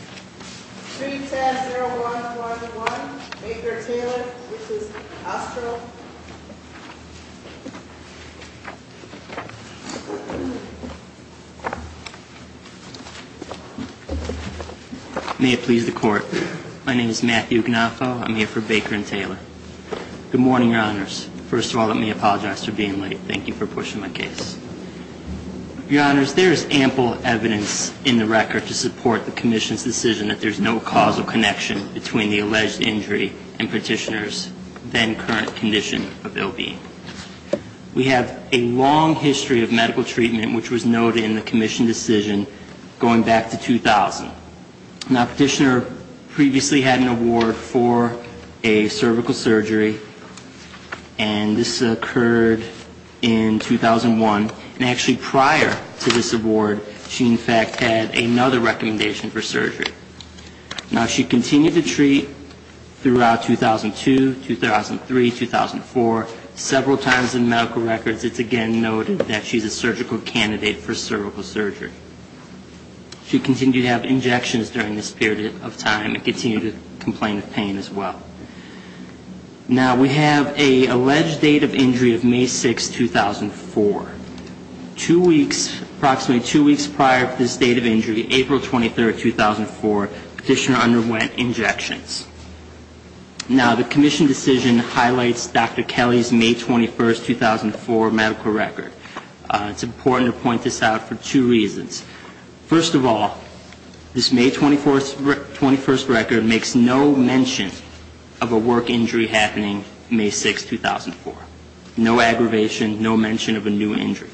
310-0141 Baker-Taylor v. Ostril May it please the Court. My name is Matthew Gnafo. I'm here for Baker and Taylor. Good morning, Your Honors. First of all, let me apologize for being late. Thank you for pushing my case. Your Honors, there is ample evidence in the record to support the Commission's decision that there's no causal connection between the alleged injury and Petitioner's then-current condition of ill-being. We have a long history of medical treatment which was noted in the Commission decision going back to 2000. Now, Petitioner previously had an award for a cervical surgery, and this occurred in 2001, and actually prior to this award, she in fact had another recommendation for surgery. Now, she continued to treat throughout 2002, 2003, 2004, several times in medical records it's again noted that she's a surgical candidate for cervical surgery. She continued to have injections during this period of time and continued to complain of pain as well. Now, we have an alleged date of injury of May 6, 2004. Two weeks, approximately two weeks prior to this date of injury, April 23, 2004, Petitioner underwent injections. Now, the Commission decision highlights Dr. Kelly's May 21, 2004 medical record. It's important to point this out for two reasons. First of all, this May 21 record makes no mention of a work injury happening May 6, 2004. No aggravation, no mention of a new injury.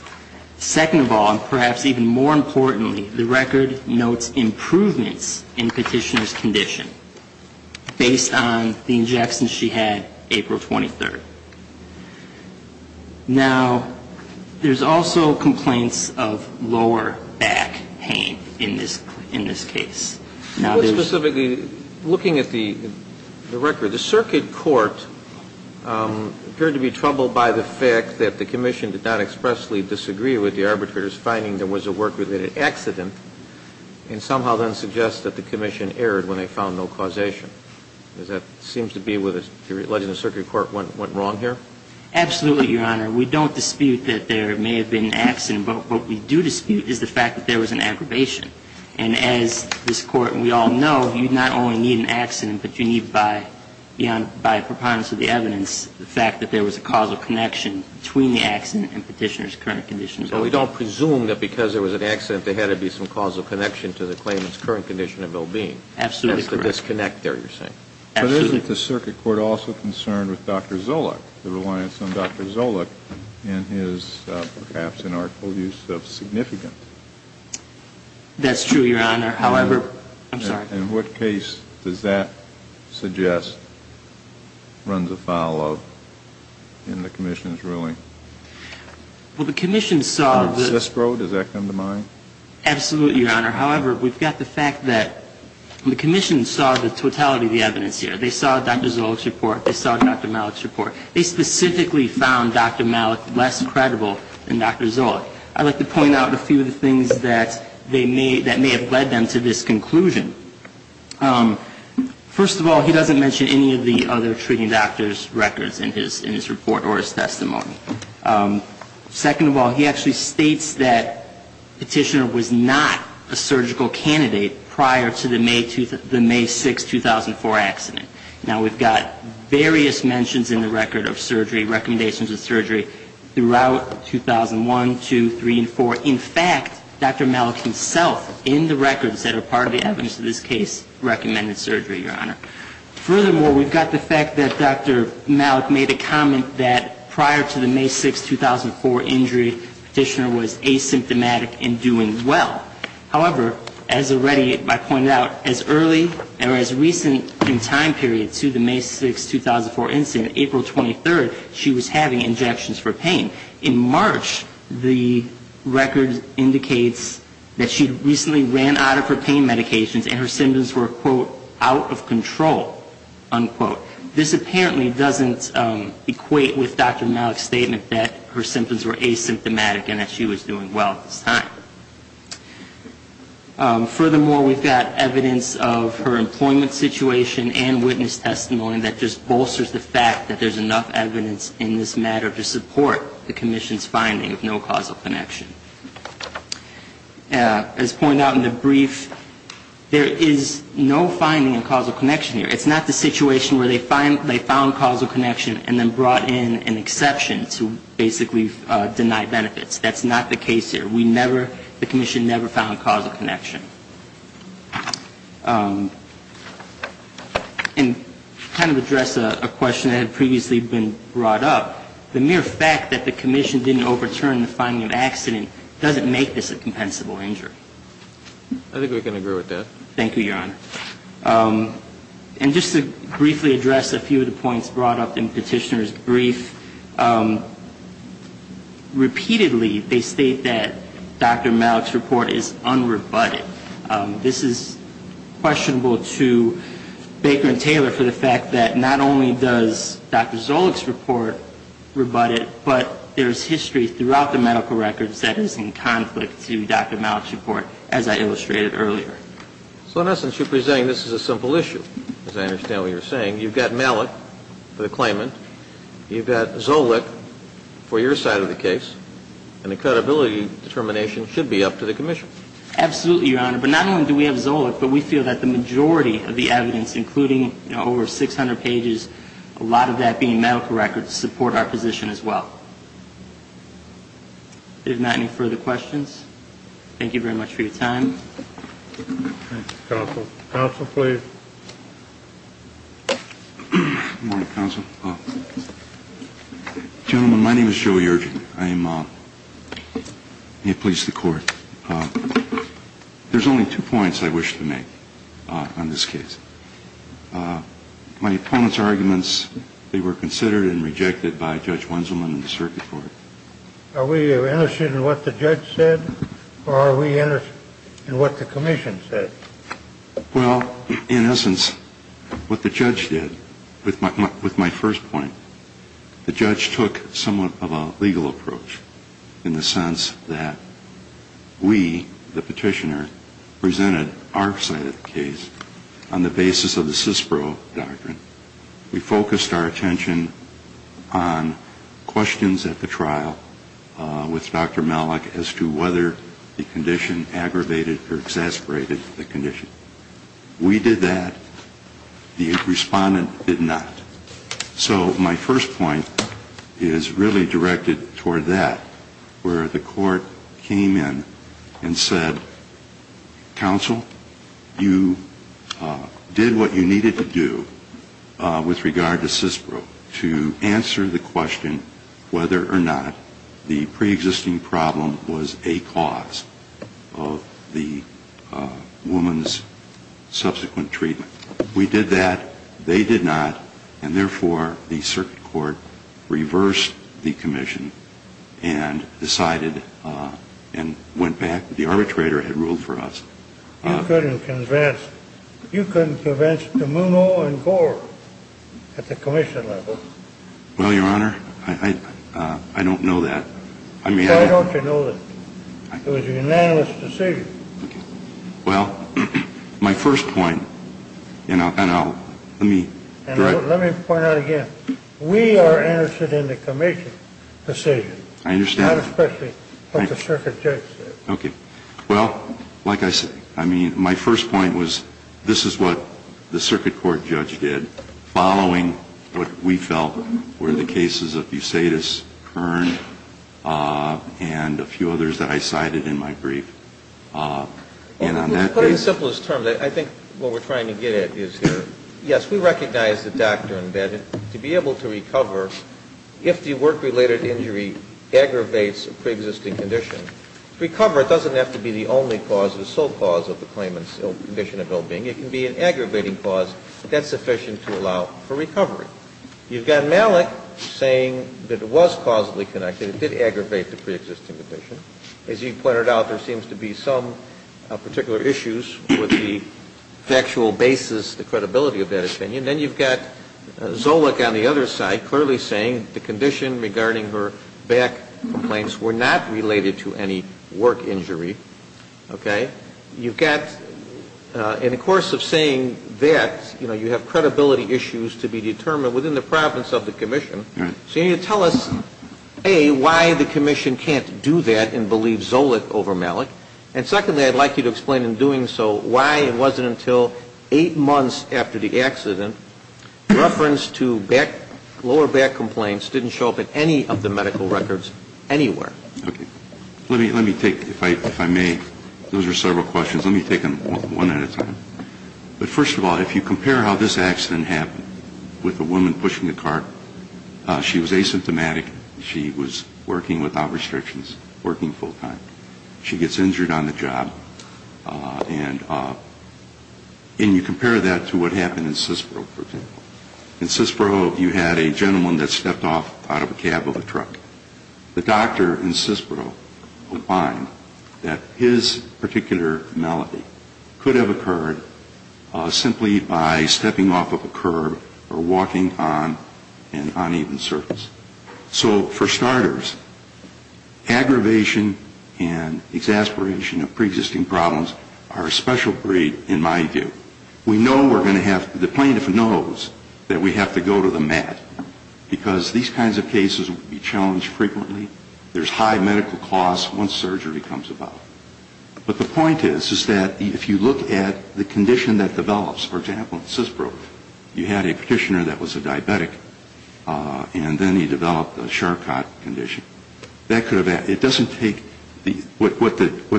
Second of all, and perhaps even more importantly, the record notes improvements in Petitioner's condition based on the injections she had April 23. Now, there's also complaints of lower back pain in this case. Now, specifically looking at the record, the circuit court appeared to be troubled by the fact that the Commission did not expressly disagree with the arbitrator's finding there was a work-related accident and somehow then suggests that the Commission erred when they found no causation. Does that seem to be whether the Circuit Court went wrong here? Absolutely, Your Honor. We don't dispute that there may have been an accident, but what we do dispute is the fact that there was an aggravation. And as this Court and we all know, you not only need an accident, but you need by preponderance of the evidence the fact that there was a causal connection between the accident and Petitioner's current condition. So we don't presume that because there was an accident there had to be some causal connection to the claimant's current condition of well-being? Absolutely correct. That's the disconnect there you're saying? Absolutely. Isn't the Circuit Court also concerned with Dr. Zolich, the reliance on Dr. Zolich in his perhaps inartful use of significant? That's true, Your Honor. However, I'm sorry. In what case does that suggest runs afoul of in the Commission's ruling? Well, the Commission saw that... Cispro, does that come to mind? Absolutely, Your Honor. However, we've got the fact that the Commission saw the totality of the evidence here. They saw Dr. Zolich's report. They saw Dr. Malik's report. They specifically found Dr. Malik less credible than Dr. Zolich. I'd like to point out a few of the things that may have led them to this conclusion. First of all, he doesn't mention any of the other treating doctors' records in his report or his testimony. Second of all, he actually states that Petitioner was not a surgical candidate prior to the May 6, 2004 accident. Now, we've got various mentions in the record of surgery, recommendations of surgery throughout 2001, 2, 3, and 4. In fact, Dr. Malik himself, in the records that are part of the evidence of this case, recommended surgery, Your Honor. Furthermore, we've got the fact that Dr. Malik made a comment that prior to the May 6, 2004 injury, Petitioner was asymptomatic and doing well. However, as already I pointed out, as early or as recent in time period to the May 6, 2004 incident, April 23rd, she was having injections for pain. In March, the record indicates that she recently ran out of her pain medications and her symptoms were, quote, out of control, unquote. This apparently doesn't equate with Dr. Malik's statement that her symptoms were asymptomatic and that she was doing well at this time. Furthermore, we've got evidence of her employment situation and witness testimony that just bolsters the fact that there's enough evidence in this matter to support the Commission's finding of no causal connection. As pointed out in the brief, there is no finding of causal connection here. It's not the situation where they found causal connection and then brought in an exception to basically deny benefits. That's not the case here. We never, the Commission never found causal connection. And kind of address a question that had previously been brought up. The mere fact that the Commission didn't overturn the finding of accident doesn't make this a compensable injury. I think we can agree with that. Thank you, Your Honor. And just to briefly address a few of the points brought up in Petitioner's brief. Repeatedly, they state that Dr. Malik's report is unrebutted. This is questionable to Baker and Taylor for the fact that not only does Dr. Zolich's report rebut it, but there's history throughout the medical records that is in conflict to Dr. Malik's report, as I illustrated earlier. So in essence, you're presenting this is a simple issue, as I understand what you're saying. You've got Malik for the claimant. You've got Zolich for your side of the case. And the credibility determination should be up to the Commission. Absolutely, Your Honor. But not only do we have Zolich, but we feel that the majority of the evidence, including over 600 pages, a lot of that being medical records, support our position as well. If not, any further questions? Thank you very much for your time. Thank you, Counsel. Counsel, please. Good morning, Counsel. Gentlemen, my name is Joe Yergin. May it please the Court. There's only two points I wish to make on this case. My opponent's arguments, they were considered and rejected by Judge Wenzelman and the Circuit Court. Are we interested in what the judge said, or are we interested in what the Commission said? Well, in essence, what the judge did, with my first point, the judge took somewhat of a legal approach in the sense that we, the petitioner, presented our side of the case on the basis of the CISPRO doctrine. We focused our attention on questions at the trial with Dr. Malik as to whether the condition aggravated or exasperated the condition. We did that. The respondent did not. So my first point is really directed toward that, where the Court came in and said, Counsel, you did what you needed to do with regard to CISPRO to answer the question whether or not the preexisting problem was a cause of the woman's subsequent treatment. We did that. They did not. And, therefore, the Circuit Court reversed the Commission and decided and went back. It was a unanimous decision. And the arbitrator had ruled for us. You couldn't convince De Muno and Gore at the Commission level. Well, Your Honor, I don't know that. Why don't you know that? It was a unanimous decision. Well, my first point, and I'll, let me direct. And let me point out again, we are interested in the Commission decision. I understand. Not especially what the Circuit Judge said. But I would like to know whether or not you recognize the fact that the woman was not the cause of the condition. I think there's a number of factors that I cited in my brief. And on that basis ---- Well, to put it in the simplest terms, I think what we're trying to get at is, yes, we recognize the doctrine that to be able to recover, if the work-related injury was not related to any work injury. As you pointed out, there seems to be some particular issues with the factual basis, the credibility of that opinion. Then you've got Zolich on the other side clearly saying the condition regarding her back complaints were not related to any work injury. Okay? You've got, in the course of saying that, you know, you have credibility issues to be determined within the province of the Commission. So you need to tell us, A, why the Commission can't do that and believe Zolich over Malik. And secondly, I'd like you to explain in doing so why it wasn't until eight months after the accident, reference to lower back complaints didn't show up in any of the medical records anywhere. Okay. Let me take, if I may, those are several questions. Let me take them one at a time. But first of all, if you compare how this accident happened with a woman pushing a cart, she was asymptomatic. She was working without restrictions, working full-time. She gets injured on the job. And you compare that to what happened in Sisbro, for example. In Sisbro, you had a gentleman that stepped off out of a cab of a truck. The doctor in Sisbro would find that his particular malady could have occurred simply by stepping off of a curb or walking on an uneven surface. So for starters, aggravation and exasperation of preexisting problems are a special breed in my view. We know we're going to have the plaintiff knows that we have to go to the med, because these kinds of cases will be challenged frequently. There's high medical costs once surgery comes about. But the point is, is that if you look at the condition that develops, for example, in Sisbro, you had a petitioner that was a diabetic. And then he developed a Charcot condition. It doesn't take what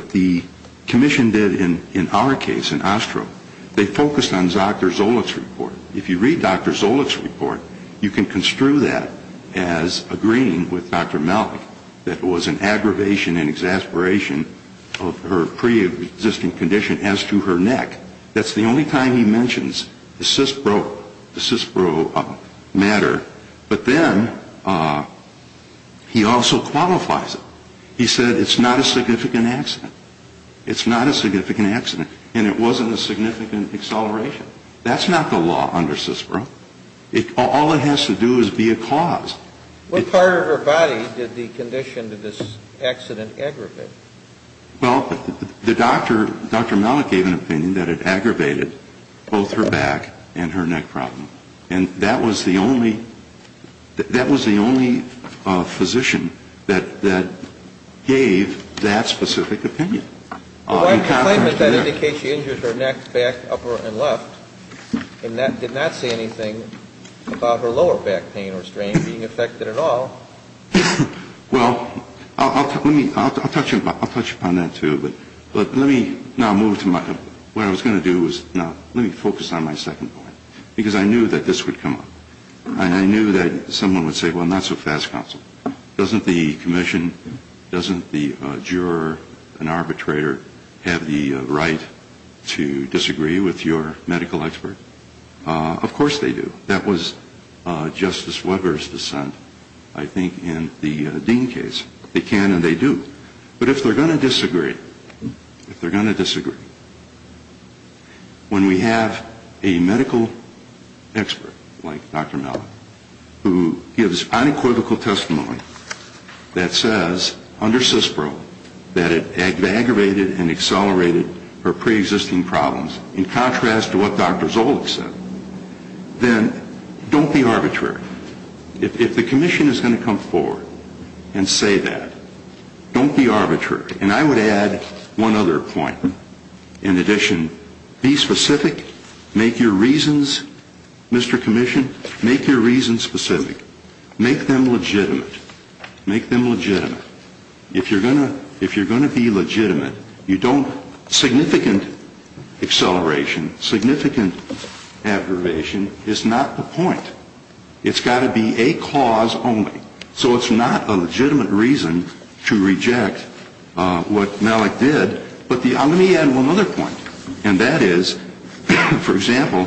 the commission did in our case in Ostro. They focused on Dr. Zolich's report. If you read Dr. Zolich's report, you can construe that as agreeing with Dr. Mallick that it was an aggravation and exasperation of her preexisting condition as to her neck. That's the only time he mentions the Sisbro matter. But then he also qualifies it. He said it's not a significant accident. It's not a significant accident. And it wasn't a significant exasperation. That's not the law under Sisbro. All it has to do is be a cause. What part of her body did the condition of this accident aggravate? Well, the doctor, Dr. Mallick gave an opinion that it aggravated both her back and her neck problem. And that was the only physician that gave that specific opinion. And I have no question as to how it affected her neck. She had an incontinence there. The right complaint was that she injured her neck, back, upper and left. And that did not say anything about her lower back pain or strain being affected at all. Well, I'll touch upon that, too. But let me now move to my, what I was going to do was, now, let me focus on my second point. Because I knew that this would come up. And I knew that someone would say, well, not so fast, counsel. Doesn't the commission, doesn't the juror, an arbitrator, have the right to disagree with your medical expert? Of course they do. That was Justice Weber's dissent, I think, in the Dean case. They can and they do. But if they're going to disagree, if they're going to disagree, when we have a medical expert like Dr. Mellon who gives unequivocal testimony that says, under CISPRO, that it aggravated and accelerated her preexisting problems, in contrast to what Dr. Zolich said, then don't be arbitrary. If the commission is going to come forward and say that, don't be arbitrary. And I would add one other point. In addition, be specific. Make your reasons, Mr. Commission, make your reasons specific. Make them legitimate. Make them legitimate. If you're going to be legitimate, significant acceleration, significant aggravation is not the point. It's got to be a cause only. So it's not a legitimate reason to reject what Mellick did. But let me add one other point. And that is, for example,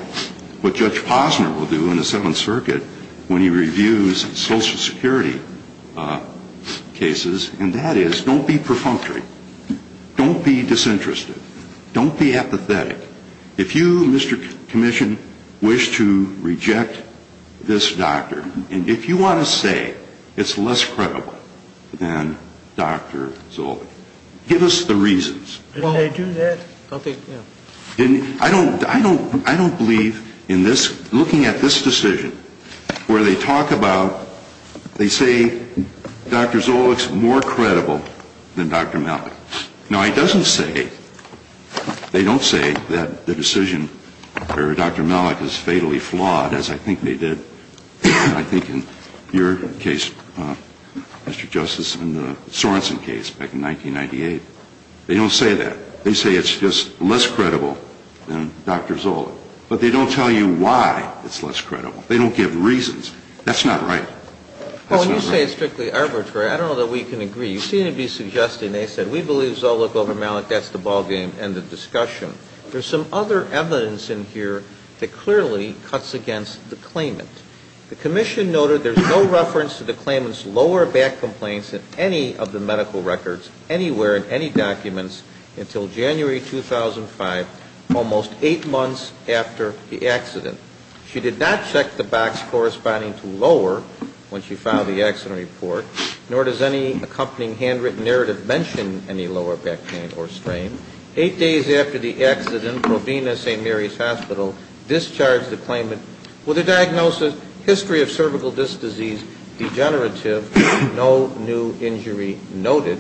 what Judge Posner will do in the Seventh Circuit when he reviews Social Security cases, and that is don't be perfunctory. Don't be disinterested. Don't be apathetic. If you, Mr. Commission, wish to reject this doctor, and if you want to say it's less credible than Dr. Zolich, give us the reasons. I don't believe in this, looking at this decision, where they talk about, they say Dr. Zolich is more credible than Dr. Mellick. Now, it doesn't say, they don't say that the decision for Dr. Mellick is fatally flawed, as I think they did. I think in your case, Mr. Justice, and the Sorensen case back in 1998. They don't say that. They say it's just less credible than Dr. Zolich. But they don't tell you why it's less credible. They don't give reasons. That's not right. That's not right. Well, when you say it's strictly arbitrary, I don't know that we can agree. You seem to be suggesting, they said, we believe Zolich over Mellick. That's the ballgame and the discussion. There's some other evidence in here that clearly cuts against the claimant. The commission noted there's no reference to the claimant's lower back complaints in any of the medical records, anywhere in any documents, until January 2005, almost eight months after the accident. She did not check the box corresponding to lower when she filed the accident report, nor does any accompanying handwritten narrative mention any lower back pain or strain. Eight days after the accident, Provena St. Mary's Hospital discharged the claimant with a diagnosis, history of cervical disc disease, degenerative, no new injury noted.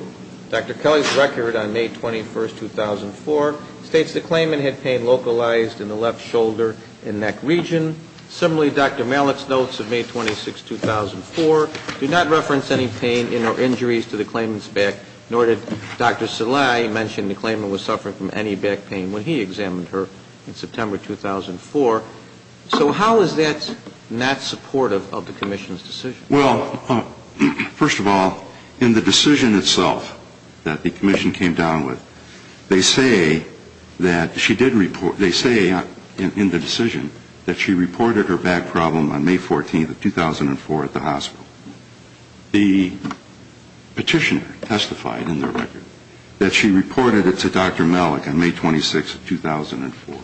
Dr. Kelly's record on May 21, 2004, states the claimant had pain localized in the left shoulder and neck region. Similarly, Dr. Mellick's notes of May 26, 2004, do not reference any pain or injuries to the claimant's back, nor did Dr. Salehi mention the claimant was suffering from any back pain when he examined her in September 2004. So how is that not supportive of the commission's decision? Well, first of all, in the decision itself that the commission came down with, they say that she did report, they say in the decision that she reported her back problem on May 14, 2004, at the hospital. The petitioner testified in their record that she reported it to Dr. Mellick on May 26, 2004.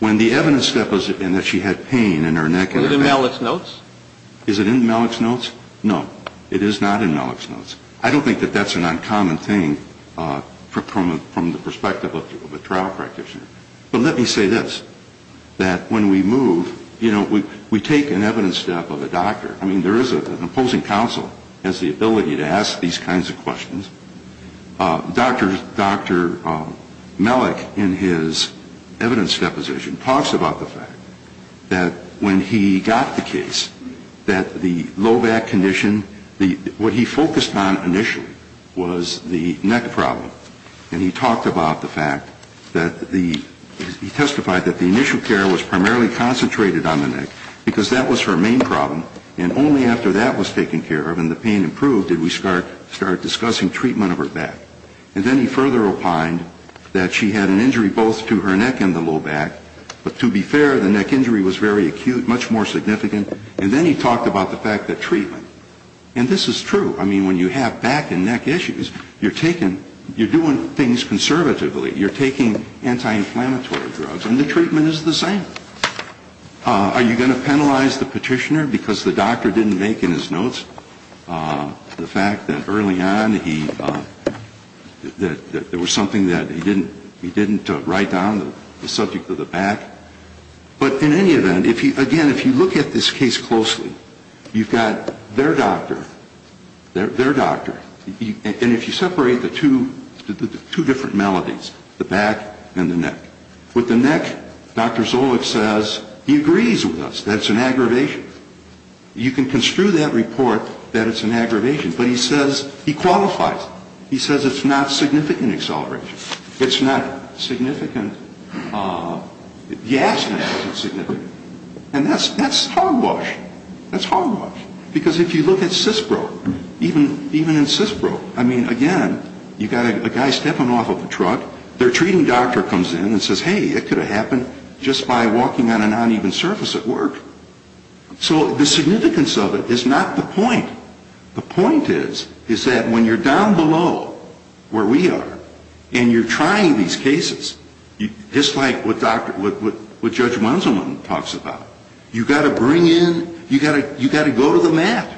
When the evidence step was in that she had pain in her neck and her back. Is it in Mellick's notes? Is it in Mellick's notes? No, it is not in Mellick's notes. I don't think that that's an uncommon thing from the perspective of a trial practitioner. But let me say this, that when we move, you know, we take an evidence step of a doctor. I mean, there is an opposing counsel has the ability to ask these kinds of questions. Dr. Mellick in his evidence deposition talks about the fact that when he got the case that the low back condition, what he focused on initially was the neck problem. And he talked about the fact that the, he testified that the initial care was primarily concentrated on the neck because that was her main problem. And only after that was taken care of and the pain improved did we start discussing treatment of her back. And then he further opined that she had an injury both to her neck and the low back. But to be fair, the neck injury was very acute, much more significant. And then he talked about the fact that treatment. And this is true. I mean, when you have back and neck issues, you're taking, you're doing things conservatively. You're taking anti-inflammatory drugs and the treatment is the same. Are you going to penalize the petitioner because the doctor didn't make in his notes the fact that early on he, that there was something that he didn't, he didn't write down the subject of the back? But in any event, if he, again, if you look at this case closely, you've got their doctor, their doctor. And if you separate the two, the two different maladies, the back and the neck. With the neck, Dr. Zolich says he agrees with us that it's an aggravation. You can construe that report that it's an aggravation. But he says he qualifies it. He says it's not significant acceleration. It's not significant, the accident wasn't significant. And that's hogwash. That's hogwash. Because if you look at CISPRO, even in CISPRO, I mean, again, you've got a guy stepping off of a truck. Their treating doctor comes in and says, hey, it could have happened just by walking on an uneven surface at work. So the significance of it is not the point. The point is, is that when you're down below where we are and you're trying these cases, just like what Dr., what Judge Wenzelman talks about, you've got to bring in, you've got to go to the mat.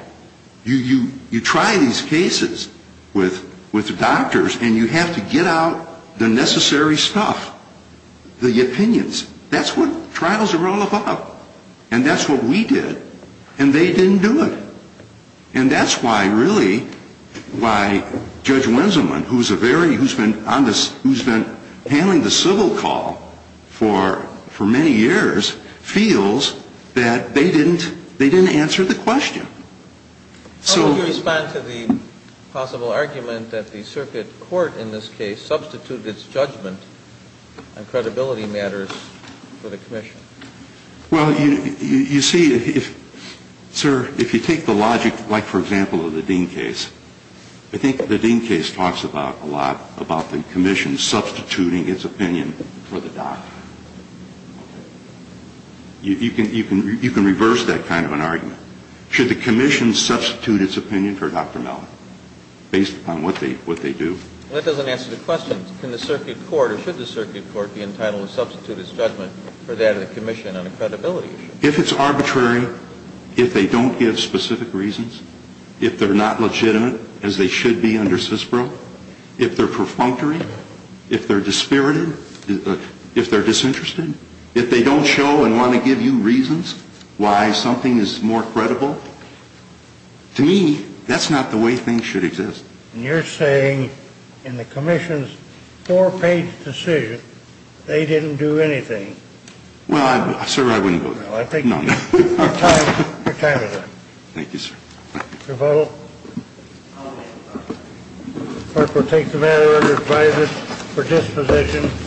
You try these cases with doctors and you have to get out the necessary stuff, the opinions. That's what trials are all about. And that's what we did. And they didn't do it. And that's why, really, why Judge Wenzelman, who's been handling the civil call for many years, feels that they didn't answer the question. So... How would you respond to the possible argument that the circuit court, in this case, substituted its judgment on credibility matters for the commission? Well, you see, sir, if you take the logic, like, for example, of the Dean case, I think the Dean case talks a lot about the commission substituting its opinion for the doctor. You can reverse that kind of an argument. Should the commission substitute its opinion for Dr. Mellon based upon what they do? Well, that doesn't answer the question. Can the circuit court or should the circuit court be entitled to substitute its judgment for that of the commission on a credibility issue? If it's arbitrary, if they don't give specific reasons, if they're not legitimate as they should be under CISPRO, if they're perfunctory, if they're dispirited, if they're disinterested, if they don't show and want to give you reasons why something is more credible, to me, that's not the way things should exist. And you're saying, in the commission's four-page decision, they didn't do anything. Well, sir, I wouldn't go there. No, I think your time is up. Thank you, sir. Thank you. Your vote? Aye. The clerk will take the matter under advisory for disposition.